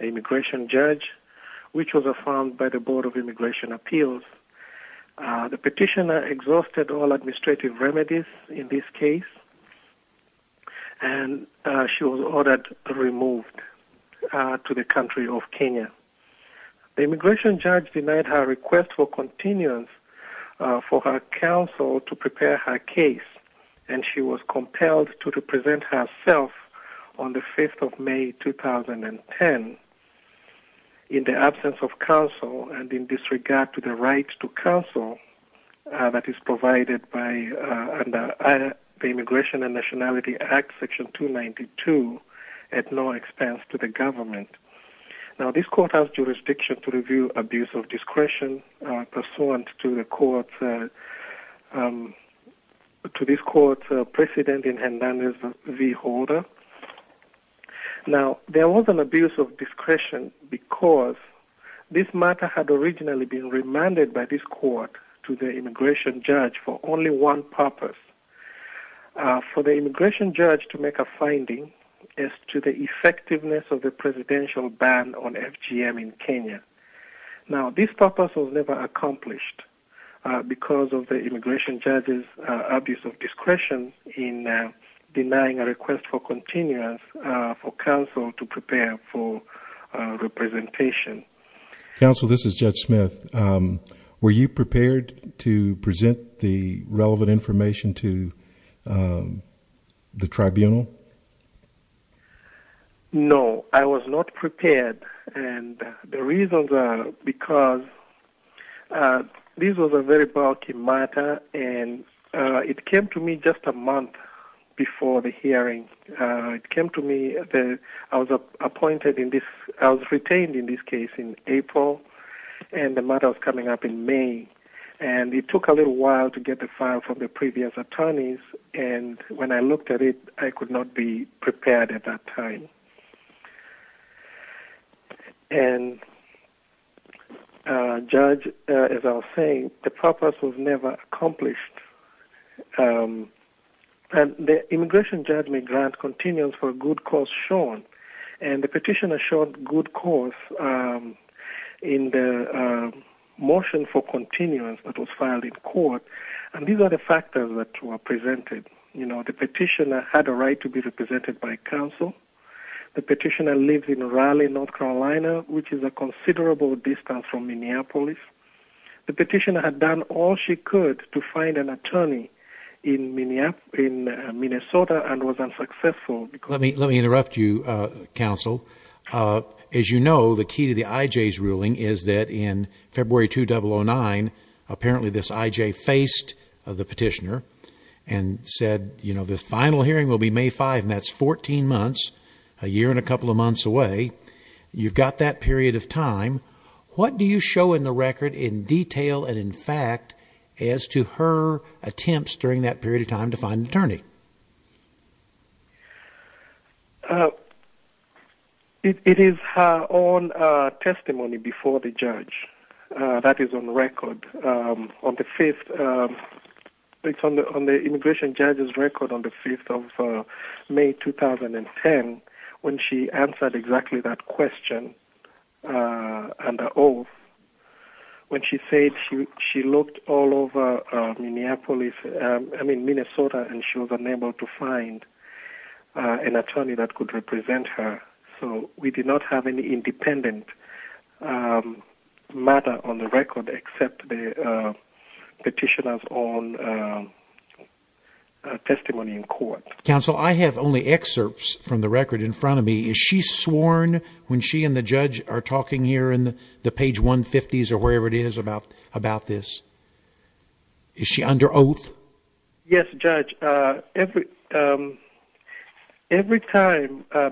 Immigration Judge, which was affirmed by the Board of Immigration Appeals. The petitioner exhausted all administrative remedies in this case and she was ordered removed to the country of Kenya. The immigration judge denied her request for continuance for her counsel to the government. In the absence of counsel and in disregard to the right to counsel that is provided by the Immigration and Nationality Act, Section 292, at no expense to the government. This court has jurisdiction to review abuse of discretion pursuant to this court's precedent in Njoroge v. Holder. Now, there was an abuse of discretion because this matter had originally been remanded by this court to the immigration judge for only one purpose. For the immigration judge to make a finding as to the effectiveness of the presidential ban on FGM in Kenya. Now this purpose was never accomplished because of the immigration judge's abuse of discretion in denying a request for continuance for counsel to prepare for representation. Counsel, this is Judge Smith. Were you prepared to present the relevant information to the tribunal? No, I was not prepared and the reasons are because this was a very bulky matter and it came to me just a month before the hearing. It came to me, I was appointed, I was retained in this case in April and the matter was coming up in May and it took a little while to get the file from the previous attorneys and when I looked at it, I could not be prepared at that time. And Judge, as I was saying, the purpose was never accomplished. The immigration judge may grant continuance for a good cause shown and the petitioner showed good cause in the motion for continuance that was filed in court and these are the factors that were presented. The petitioner had a right to be represented by counsel. The petitioner lived in Raleigh, North Carolina, which is a considerable distance from Minneapolis. The petitioner had done all she could to find an attorney in Minnesota and was unsuccessful. Let me interrupt you, counsel. As you know, the key to the IJ's ruling is that in February 2009, apparently this IJ faced the petitioner and said, you know, this final hearing will be May 5 and that's 14 months, a year and a couple of months away. You've got that period of time. What do you show in the record in detail and in fact as to her attempts during that period of time to find an attorney? It is her own testimony before the judge that is on record. It's on the immigration judge's record on the 5th of May 2010 when she answered exactly that question. When she said she looked all over Minnesota and she was unable to find an attorney that could represent her. So we did not have any independent matter on the record except the petitioner's own testimony in court. Counsel, I have only excerpts from the record in front of me. Is she sworn when she and the judge are talking here in the page 150s about this? Is she under oath? Yes, Judge. Every time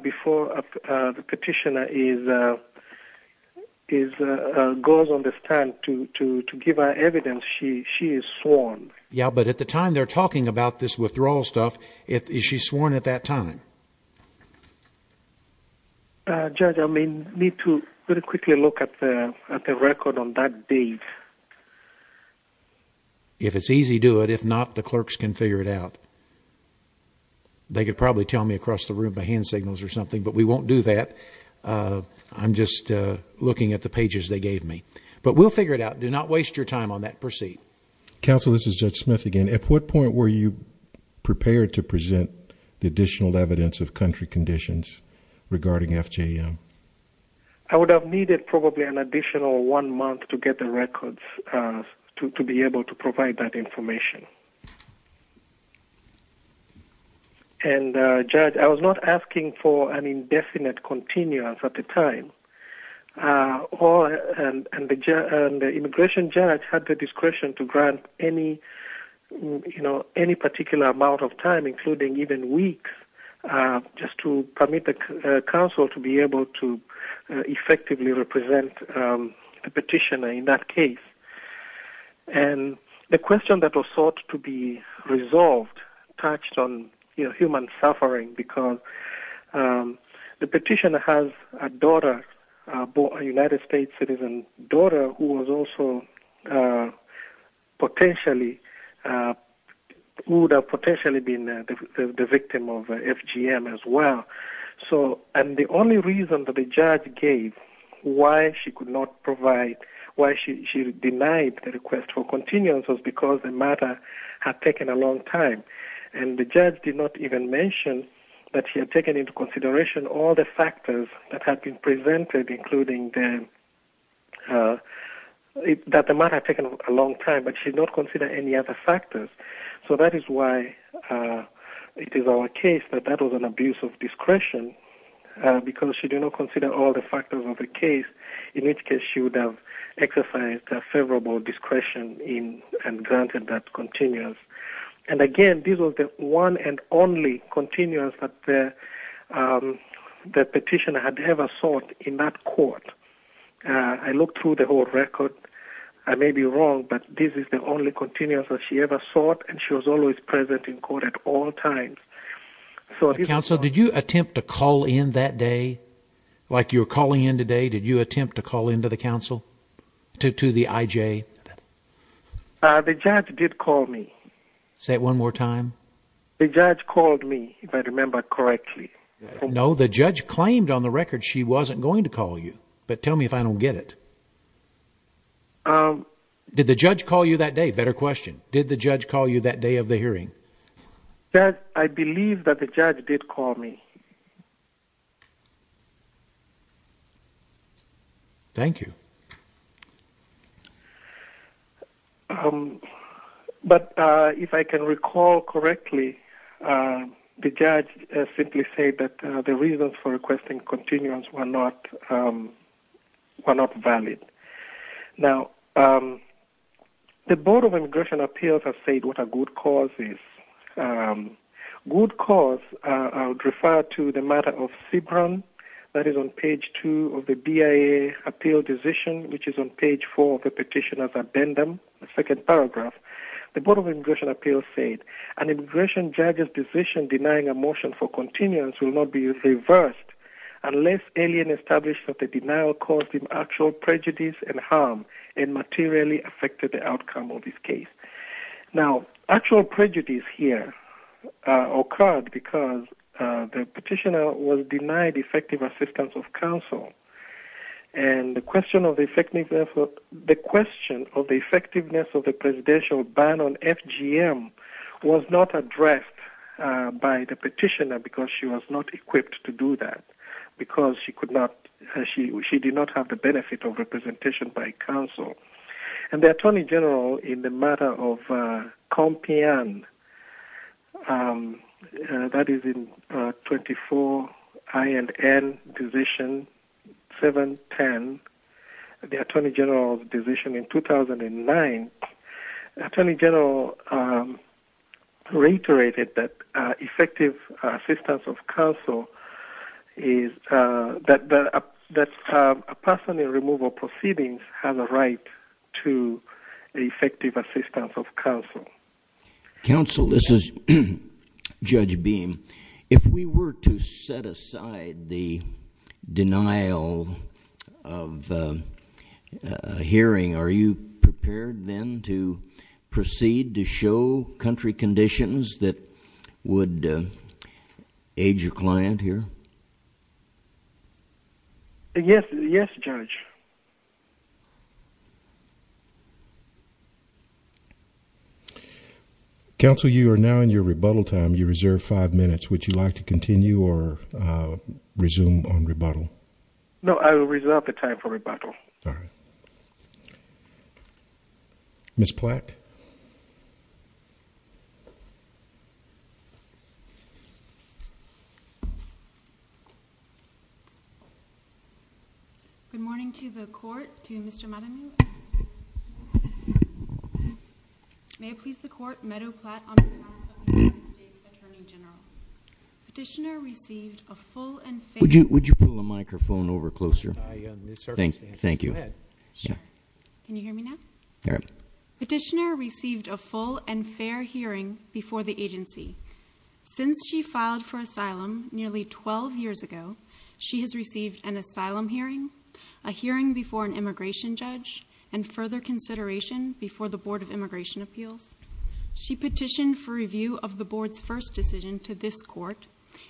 before the petitioner goes on the stand to give her evidence, she is sworn. Yeah, but at the time they're talking about this withdrawal stuff, is she sworn at that time? Judge, I may need to very quickly look at the record on that date. If it's easy, do it. If not, the clerks can figure it out. They could probably tell me across the room by hand signals or something, but we won't do that. I'm just looking at the pages they gave me, but we'll figure it out. Do not waste your time on that. Counsel, this is Judge Smith again. At what point were you prepared to present the additional evidence of country conditions regarding FJM? I would have needed probably an additional one month to get the records to be able to provide that information. And Judge, I was not asking for an indefinite continuum at the time. And the immigration judge had the discretion to grant any particular amount of time, including even weeks, just to permit the counsel to be able to effectively represent the petitioner in that case. And the question that was sought to be resolved touched on human United States citizen daughter, who would have potentially been the victim of FJM as well. And the only reason that the judge gave why she could not provide, why she denied the request for continuance was because the matter had taken a long time. And the judge did not even mention that she had taken into consideration all the factors that had been presented, including that the matter had taken a long time, but she did not consider any other factors. So that is why it is our case that that was an abuse of discretion, because she did not consider all the factors of the case, in which case she would have exercised favorable discretion and granted that continuance. And again, this was the one and only continuance that the petitioner had ever sought in that court. I looked through the whole record. I may be wrong, but this is the only continuance that she ever sought, and she was always present in court at all times. So counsel, did you attempt to call in that day? Like you're calling in today, you attempt to call into the counsel, to the IJ? The judge did call me. Say it one more time. The judge called me, if I remember correctly. No, the judge claimed on the record she wasn't going to call you. But tell me if I don't get it. Did the judge call you that day? Better question. Did the judge call you that day of the hearing? I believe that the judge did call me. Thank you. But if I can recall correctly, the judge simply said that the reasons for requesting continuance were not valid. Now, the Board of Immigration Appeals has said what a good cause is. Good cause, I would refer to the matter of CBRAN, that is on page 2 of the BIA appeal decision, which is on page 4 of the petition as addendum, the second paragraph. The Board of Immigration Appeals said, an immigration judge's decision denying a motion for continuance will not be reversed unless alien establishment of the denial caused him actual prejudice and harm and materially affected the outcome of his case. Now, actual prejudice here occurred because the petitioner was denied effective assistance of counsel. And the question of the effectiveness of the presidential ban on FGM was not addressed by the petitioner because she was not equipped to do that. Because she did not have the benefit of representation by counsel. And the Attorney General in the matter of COMPIAN, that is in 24INN decision 710, the Attorney General's decision in 2009, the Attorney General reiterated that effective assistance of counsel is that a person in removal proceedings has a right to effective assistance of counsel. Counsel, this is Judge Beam. If we were to set aside the denial of hearing, are you prepared then to proceed to show country conditions that would aid your client here? Yes, yes, Judge. Counsel, you are now in your rebuttal time. You reserve five minutes. Would you like to continue or resume on rebuttal? No, I will reserve the time for rebuttal. All right. Ms. Platt? Good morning to the court, to Mr. Madden. May it please the court, Meadow Platt on behalf of the United States Attorney General. Petitioner received a full and fair- Would you pull the microphone over closer? Thank you. Can you hear me now? All right. Petitioner received a full and fair hearing before the agency. Since she filed for asylum nearly 12 years ago, she has received an asylum hearing, a hearing before an immigration judge, and further consideration before the Board of Immigration Appeals. She petitioned for review of the board's first decision to this court,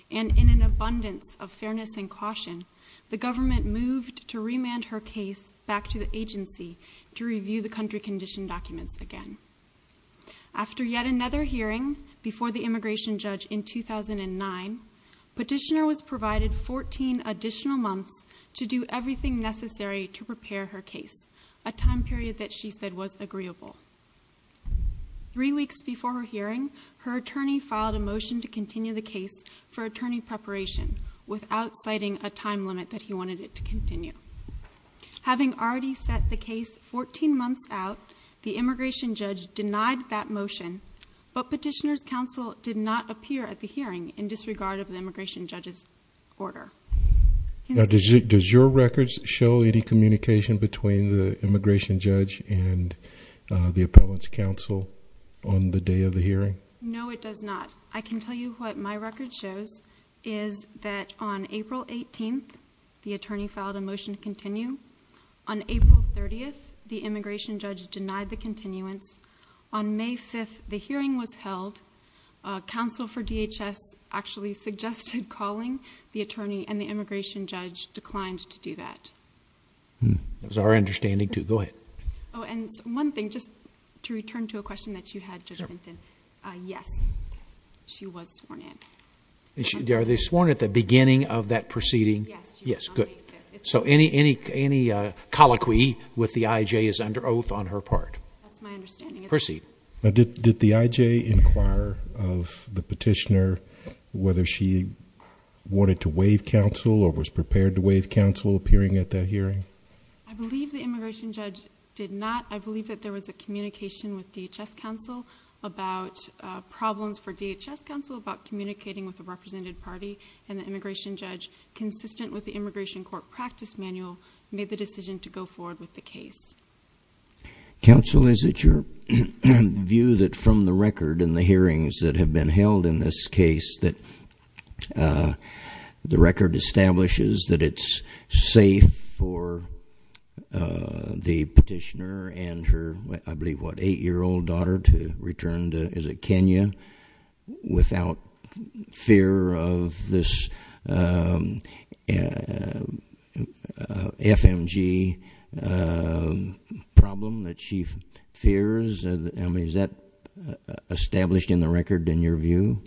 and in an abundance of fairness and caution, the government moved to remand her case back to the agency to review the country condition documents again. After yet another hearing before the immigration judge in 2009, petitioner was provided 14 additional months to do everything necessary to prepare her case, a time period that she said was agreeable. Three weeks before her hearing, her attorney filed a motion to continue the case for attorney preparation without citing a time limit that he wanted it to continue. Having already set the case 14 months out, the immigration judge denied that motion, but petitioner's counsel did not appear at the hearing in disregard of the immigration judge's order. Does your records show any communication between the immigration judge and the appellant's counsel on the day of the hearing? No, it does not. I can tell you what my record shows is that on April 18th, the attorney filed a motion to continue. On April 30th, the immigration judge denied the continuance. On May 5th, the hearing was held. Counsel for DHS actually suggested calling the attorney, and the immigration judge declined to do that. That was our understanding, too. Go ahead. And one thing, just to return to a question that you had, Judge Vinton. Yes, she was sworn in. Are they sworn at the beginning of that proceeding? Yes. Yes, good. So any colloquy with the IJ is under oath on her part. That's my understanding. Proceed. Did the IJ inquire of the petitioner whether she wanted to waive counsel or was prepared to waive counsel appearing at that hearing? I believe the immigration judge did not. I believe that there was a communication with DHS counsel about problems for DHS counsel about communicating with the represented party, and the immigration judge, consistent with the immigration court practice manual, made the decision to go forward with the case. Counsel, is it your view that from the record in the hearings that have been held in this case that the record establishes that it's safe for the petitioner and her, I believe, what, eight-year-old daughter to return to, is it Kenya, without fear of this FMG problem that she fears? I mean, is that established in the record in your view?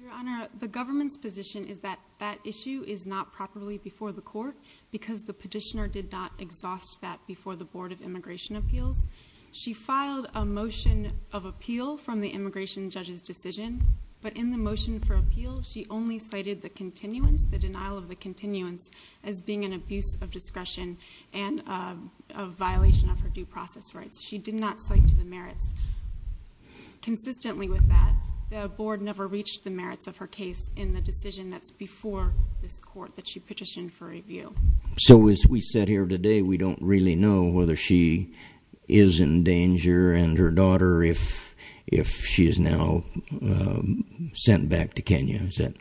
Your Honor, the government's position is that that issue is not properly before the court because the petitioner did not exhaust that before the Board of Immigration Appeals. She filed a motion of appeal from the immigration judge's decision, but in the motion for appeal, she only cited the continuance, the denial of the continuance, as being an abuse of discretion and a violation of her due process rights. She did not cite to the merits. Consistently with that, the board never reached the merits of her case in the decision that's before this court that she petitioned for review. So as we sit here today, we don't really know whether she is in danger and her daughter if she is now sent back to Kenya. Is that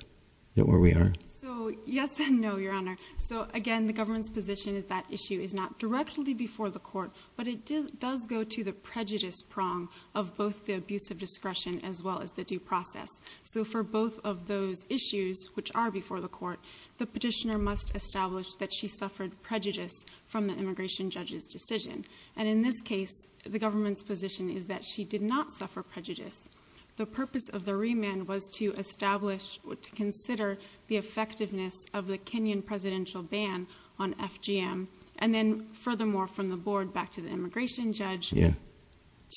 where we are? So yes and no, Your Honor. So again, the government's position is that issue is not directly before the court, but it does go to the prejudice prong of both the abuse of discretion as well as the due process. So for both of those issues, which are before the court, the petitioner must establish that she suffered prejudice from the immigration judge's decision. And in this case, the government's position is that she did not suffer prejudice. The purpose of the remand was to establish, to consider the effectiveness of the Kenyan presidential ban on FGM. And then furthermore, from the board back to the immigration judge,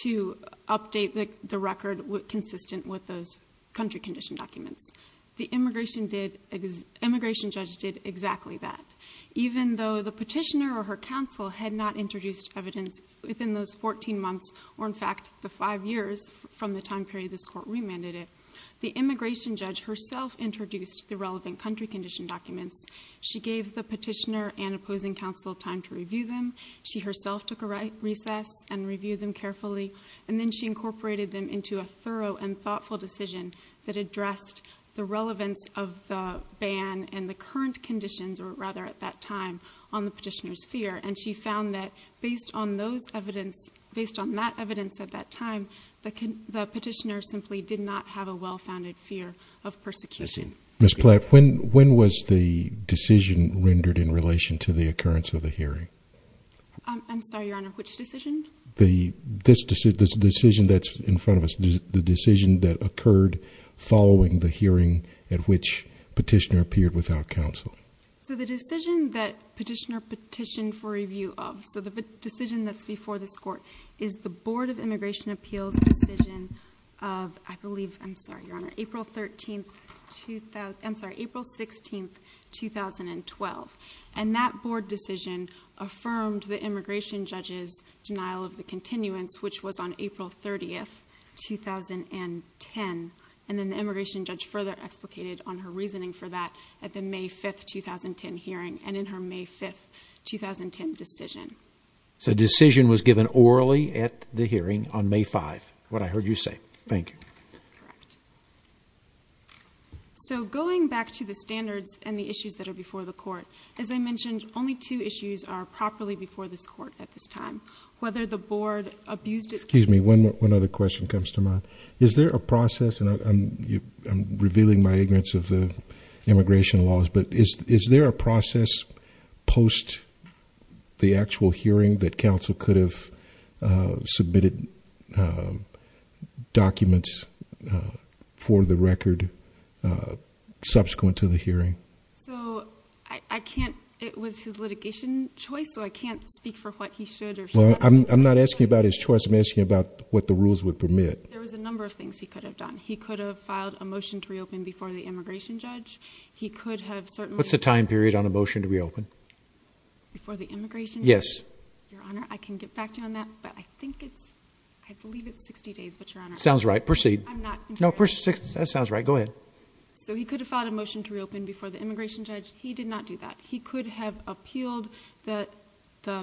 to update the record consistent with those country condition documents. The immigration judge did exactly that. Even though the petitioner or her counsel had not introduced evidence within those 14 months, or in fact, the five years from the time period this court remanded it, the immigration judge herself introduced the relevant country condition documents. She gave the petitioner and opposing counsel time to review them. She herself took a recess and reviewed them carefully. And then she incorporated them into a thorough and thoughtful decision that addressed the relevance of the ban and the current conditions, or rather at that time, on the petitioner's fear. And she found that based on that evidence at that time, the petitioner simply did not have a well-founded fear of persecution. Ms. Platt, when was the decision rendered in relation to the occurrence of the hearing? I'm sorry, Your Honor, which decision? The decision that's in front of us, the decision that occurred following the hearing at which petitioner appeared without counsel. So the decision that petitioner petitioned for review of, so the decision that's before this appeals decision of, I believe, I'm sorry, Your Honor, April 13th, I'm sorry, April 16th, 2012. And that board decision affirmed the immigration judge's denial of the continuance, which was on April 30th, 2010. And then the immigration judge further explicated on her reasoning for that at the May 5th, 2010 hearing and in her May 5th, 2010 decision. So decision was given orally at the hearing on May 5th, what I heard you say. Thank you. That's correct. So going back to the standards and the issues that are before the court, as I mentioned, only two issues are properly before this court at this time, whether the board abused it. Excuse me, one other question comes to mind. Is there a process, and I'm revealing my ignorance of the immigration laws, but is there a process post the actual hearing that counsel could have submitted documents for the record subsequent to the hearing? So I can't, it was his litigation choice, so I can't speak for what he should or should not. I'm not asking about his choice. I'm asking about what the rules would permit. There was a number of things he could have done. He could have filed a motion to reopen before the immigration judge. He could have certainly... What's the time period on a motion to reopen? Before the immigration judge? Yes. Your Honor, I can get back to you on that, but I think it's, I believe it's 60 days, but Your Honor... Sounds right. Proceed. I'm not... No, proceed. That sounds right. Go ahead. So he could have filed a motion to reopen before the immigration judge. He did not do that. He could have appealed the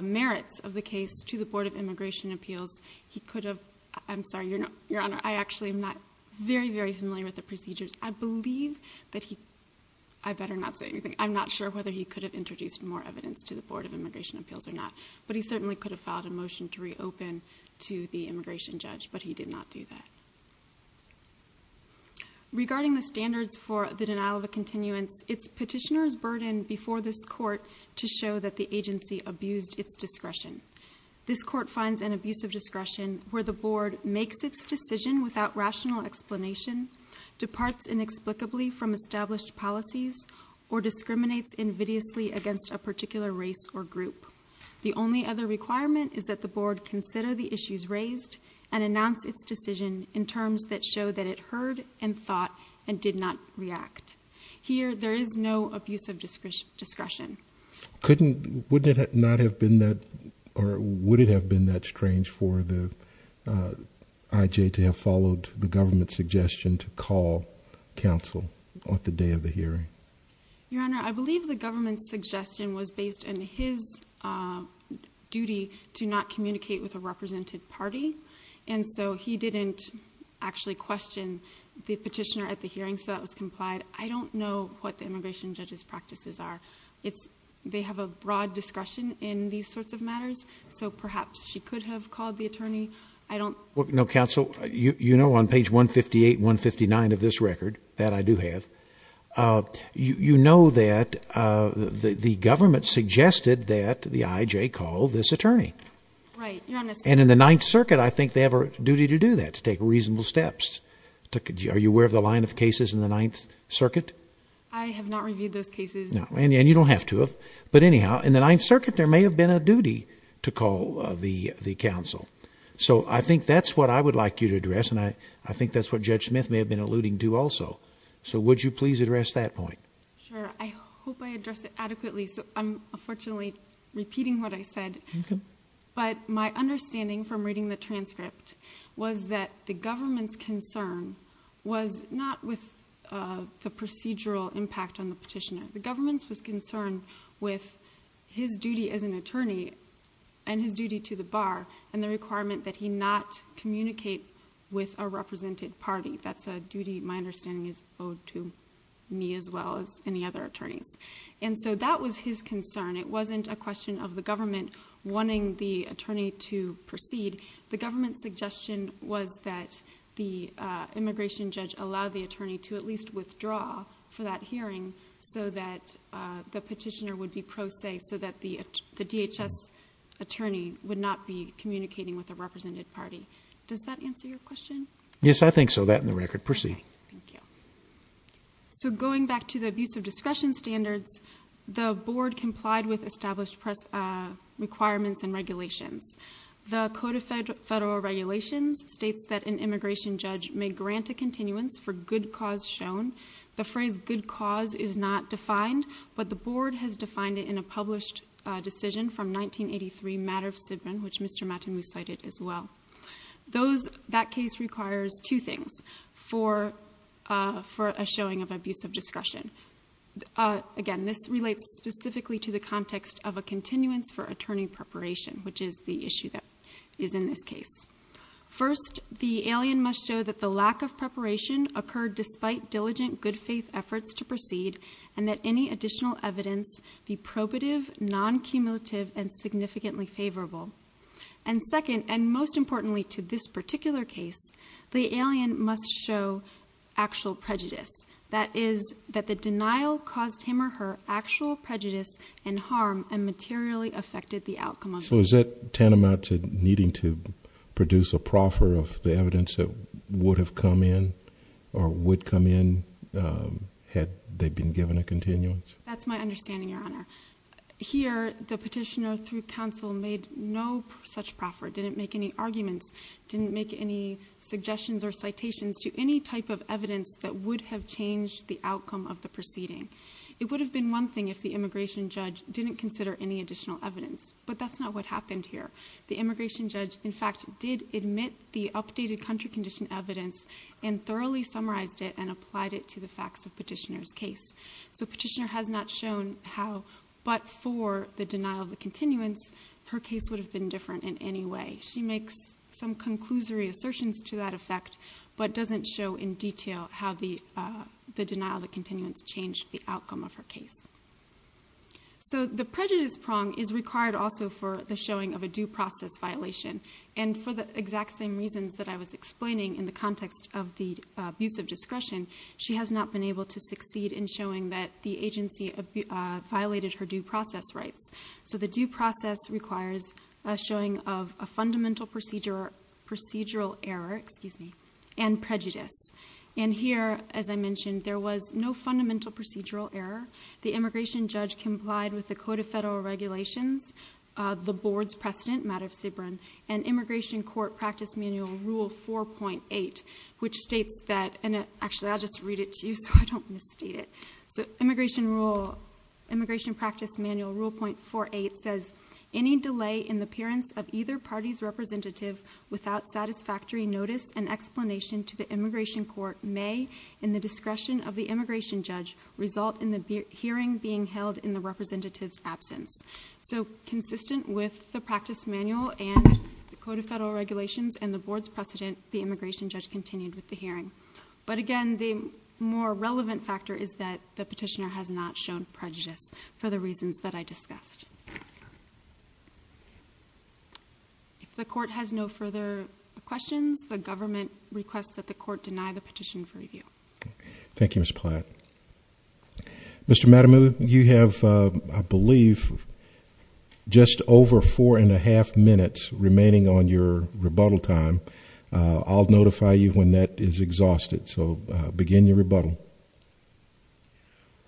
merits of the case to the Board of Immigration Appeals. He could have... I'm sorry, Your Honor, I actually am not very, very familiar with the procedures. I believe that he... I better not say anything. I'm not sure whether he could have introduced more evidence to the Board of Immigration Appeals or not, but he certainly could have filed a motion to reopen to the immigration judge, but he did not do that. Regarding the standards for the denial of a continuance, it's petitioner's burden before this court to show that the agency abused its discretion. This court finds an abuse of discretion where the board makes its decision without rational explanation, departs inexplicably from established policies, or discriminates invidiously against a particular race or group. The only other requirement is that the board consider the issues raised and announce its decision in terms that show that it heard and thought and did not react. Here, there is no abuse of discretion. Couldn't... Wouldn't it not have been that... Or would it have been that strange for the IJ to have followed the government's suggestion to call counsel on the day of the hearing? Your Honor, I believe the government's suggestion was based on his duty to not communicate with a represented party, and so he didn't actually question the petitioner at the hearing, so that was complied. I don't know what the immigration judge's practices are. It's... They have a broad discretion in these sorts of matters, so perhaps she could have called the attorney. I don't... Counsel, you know on page 158 and 159 of this record, that I do have, you know that the government suggested that the IJ call this attorney. Right. Your Honor... And in the Ninth Circuit, I think they have a duty to do that, to take reasonable steps. Are you aware of the line of cases in the Ninth Circuit? I have not reviewed those cases. And you don't have to have, but anyhow, in the Ninth Circuit, there may have been a duty to call the counsel. So I think that's what I would like you to address, and I think that's what Judge Smith may have been alluding to also. So would you please address that point? Sure. I hope I addressed it adequately. I'm unfortunately repeating what I said, but my understanding from reading the transcript was that the government's concern was not with the procedural impact on the petitioner. The government was concerned with his duty as an attorney, and his duty to the bar, and the requirement that he not communicate with a represented party. That's a duty my understanding is owed to me as well as any other attorneys. And so that was his concern. It wasn't a question of the government wanting the attorney to proceed. The government's suggestion was that the immigration judge allow the attorney to at least withdraw for that hearing so that the petitioner would be pro se, so that the DHS attorney would not be communicating with a represented party. Does that answer your question? Yes, I think so. That and the record. Proceed. Thank you. So going back to the abuse of discretion standards, the board complied with established requirements and regulations. The Code of Federal Regulations states that an immigration judge may grant a continuance for good cause shown. The phrase good cause is not matter of which Mr. Matin recited as well. That case requires two things for a showing of abuse of discretion. Again, this relates specifically to the context of a continuance for attorney preparation, which is the issue that is in this case. First, the alien must show that the lack of preparation occurred despite diligent good faith efforts to proceed, and that any additional evidence be probative, non-cumulative, and significantly favorable. And second, and most importantly to this particular case, the alien must show actual prejudice. That is that the denial caused him or her actual prejudice and harm and materially affected the outcome of it. So is that tantamount to needing to produce a proffer of the evidence that would have come in or would come in had they been given a continuance? That's my understanding, Your Honor. Here, the petitioner through counsel made no such proffer, didn't make any arguments, didn't make any suggestions or citations to any type of evidence that would have changed the outcome of the proceeding. It would have been one thing if the immigration judge didn't consider any additional evidence, but that's not what happened here. The immigration judge, in fact, did admit the updated country condition evidence and thoroughly summarized it and applied it to the facts of petitioner's case. So petitioner has not shown how, but for the denial of the continuance, her case would have been different in any way. She makes some conclusory assertions to that effect, but doesn't show in detail how the denial of the continuance changed the outcome of her case. So the prejudice prong is required also for the showing of a due process violation, and for the exact same reasons that I was explaining in the context of the abuse of the agency violated her due process rights. So the due process requires a showing of a fundamental procedural error and prejudice. And here, as I mentioned, there was no fundamental procedural error. The immigration judge complied with the Code of Federal Regulations, the board's precedent, matter of CBRN, and Immigration Court Practice Manual Rule 4.8, which states that, and actually I'll just read it to you so I don't misstate it. So Immigration Rule, Immigration Practice Manual Rule 4.8 says, any delay in the appearance of either party's representative without satisfactory notice and explanation to the Immigration Court may, in the discretion of the immigration judge, result in the hearing being held in the representative's absence. So consistent with the practice manual and the Code of Federal Regulations and the board's precedent, the immigration judge continued with the hearing. But again, the more relevant factor is that the petitioner has not shown prejudice for the reasons that I discussed. If the court has no further questions, the government requests that the court deny the petition for review. Thank you, Ms. Platt. Mr. Matamu, you have, I believe, just over four and a half minutes remaining on your rebuttal time. I'll notify you when that is exhausted. So begin your rebuttal.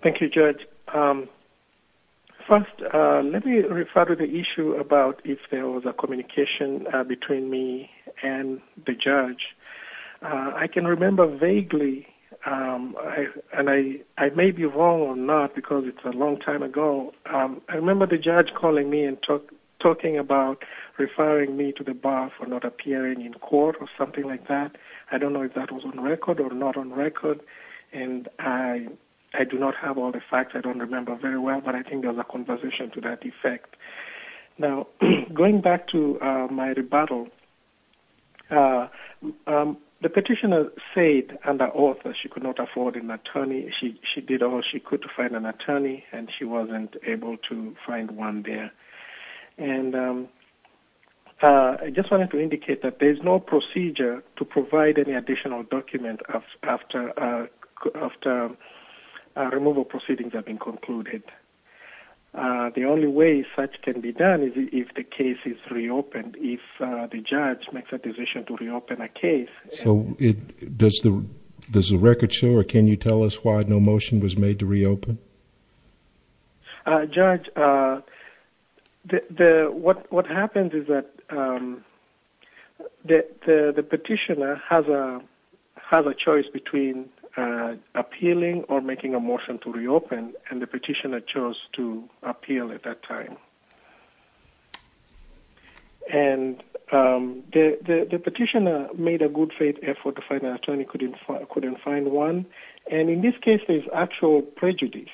Thank you, Judge. First, let me refer to the issue about if there was a communication between me and the judge. I can remember vaguely, and I may be wrong or not because it's a long time ago, I remember the judge calling me and talking about referring me to the bar for not appearing in court or something like that. I don't know if that was on record or not on record, and I do not have all the facts. I don't remember very well, but I think there was a conversation to that effect. Now, going back to my rebuttal, the petitioner said under oath that she could not afford an attorney. She did all she could to find an attorney, and she wasn't able to find one there. I just wanted to indicate that there is no procedure to provide any additional document after removal proceedings have been concluded. The only way such can be done is if the case is reopened, if the judge makes a decision to reopen a case. So does the record show or can you tell us why no motion was made to reopen? Judge, what happens is that the petitioner has a choice between appealing or making a motion to reopen, and the petitioner chose to appeal at that time. And the petitioner made a good faith effort to find an attorney, couldn't find one, and in this case there's actual prejudice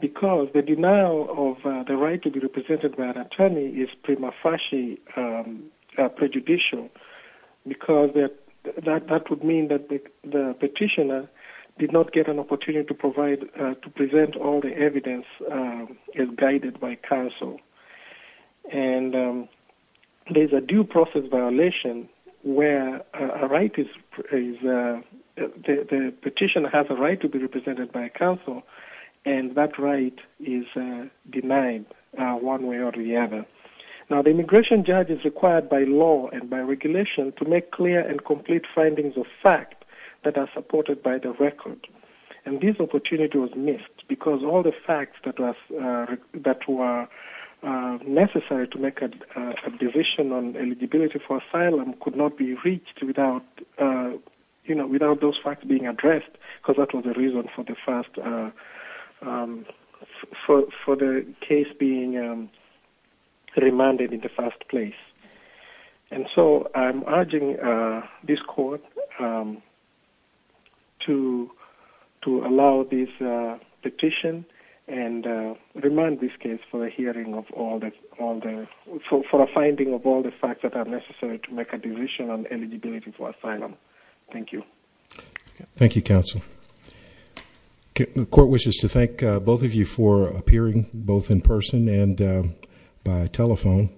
because the denial of the right to be represented by an attorney is prima facie prejudicial because that would mean that the petitioner did not get an opportunity to present all the evidence as guided by counsel. And there's a due process violation where the petitioner has a right to be represented by counsel, and that right is denied one way or the other. Now, the immigration judge is required by law and by regulation to make clear and complete findings of fact that are supported by the record, and this opportunity was all the facts that were necessary to make a decision on eligibility for asylum could not be reached without those facts being addressed because that was the reason for the case being remanded in the first place. And so I'm urging this court to allow this petition and remand this case for a hearing of all the, for a finding of all the facts that are necessary to make a decision on eligibility for asylum. Thank you. Thank you, counsel. The court wishes to thank both of you for appearing, both in person and by telephone.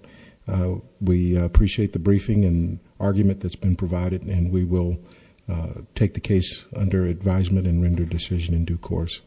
We appreciate the briefing and argument that's been provided, and we will take the case under advisement and render decision in due course.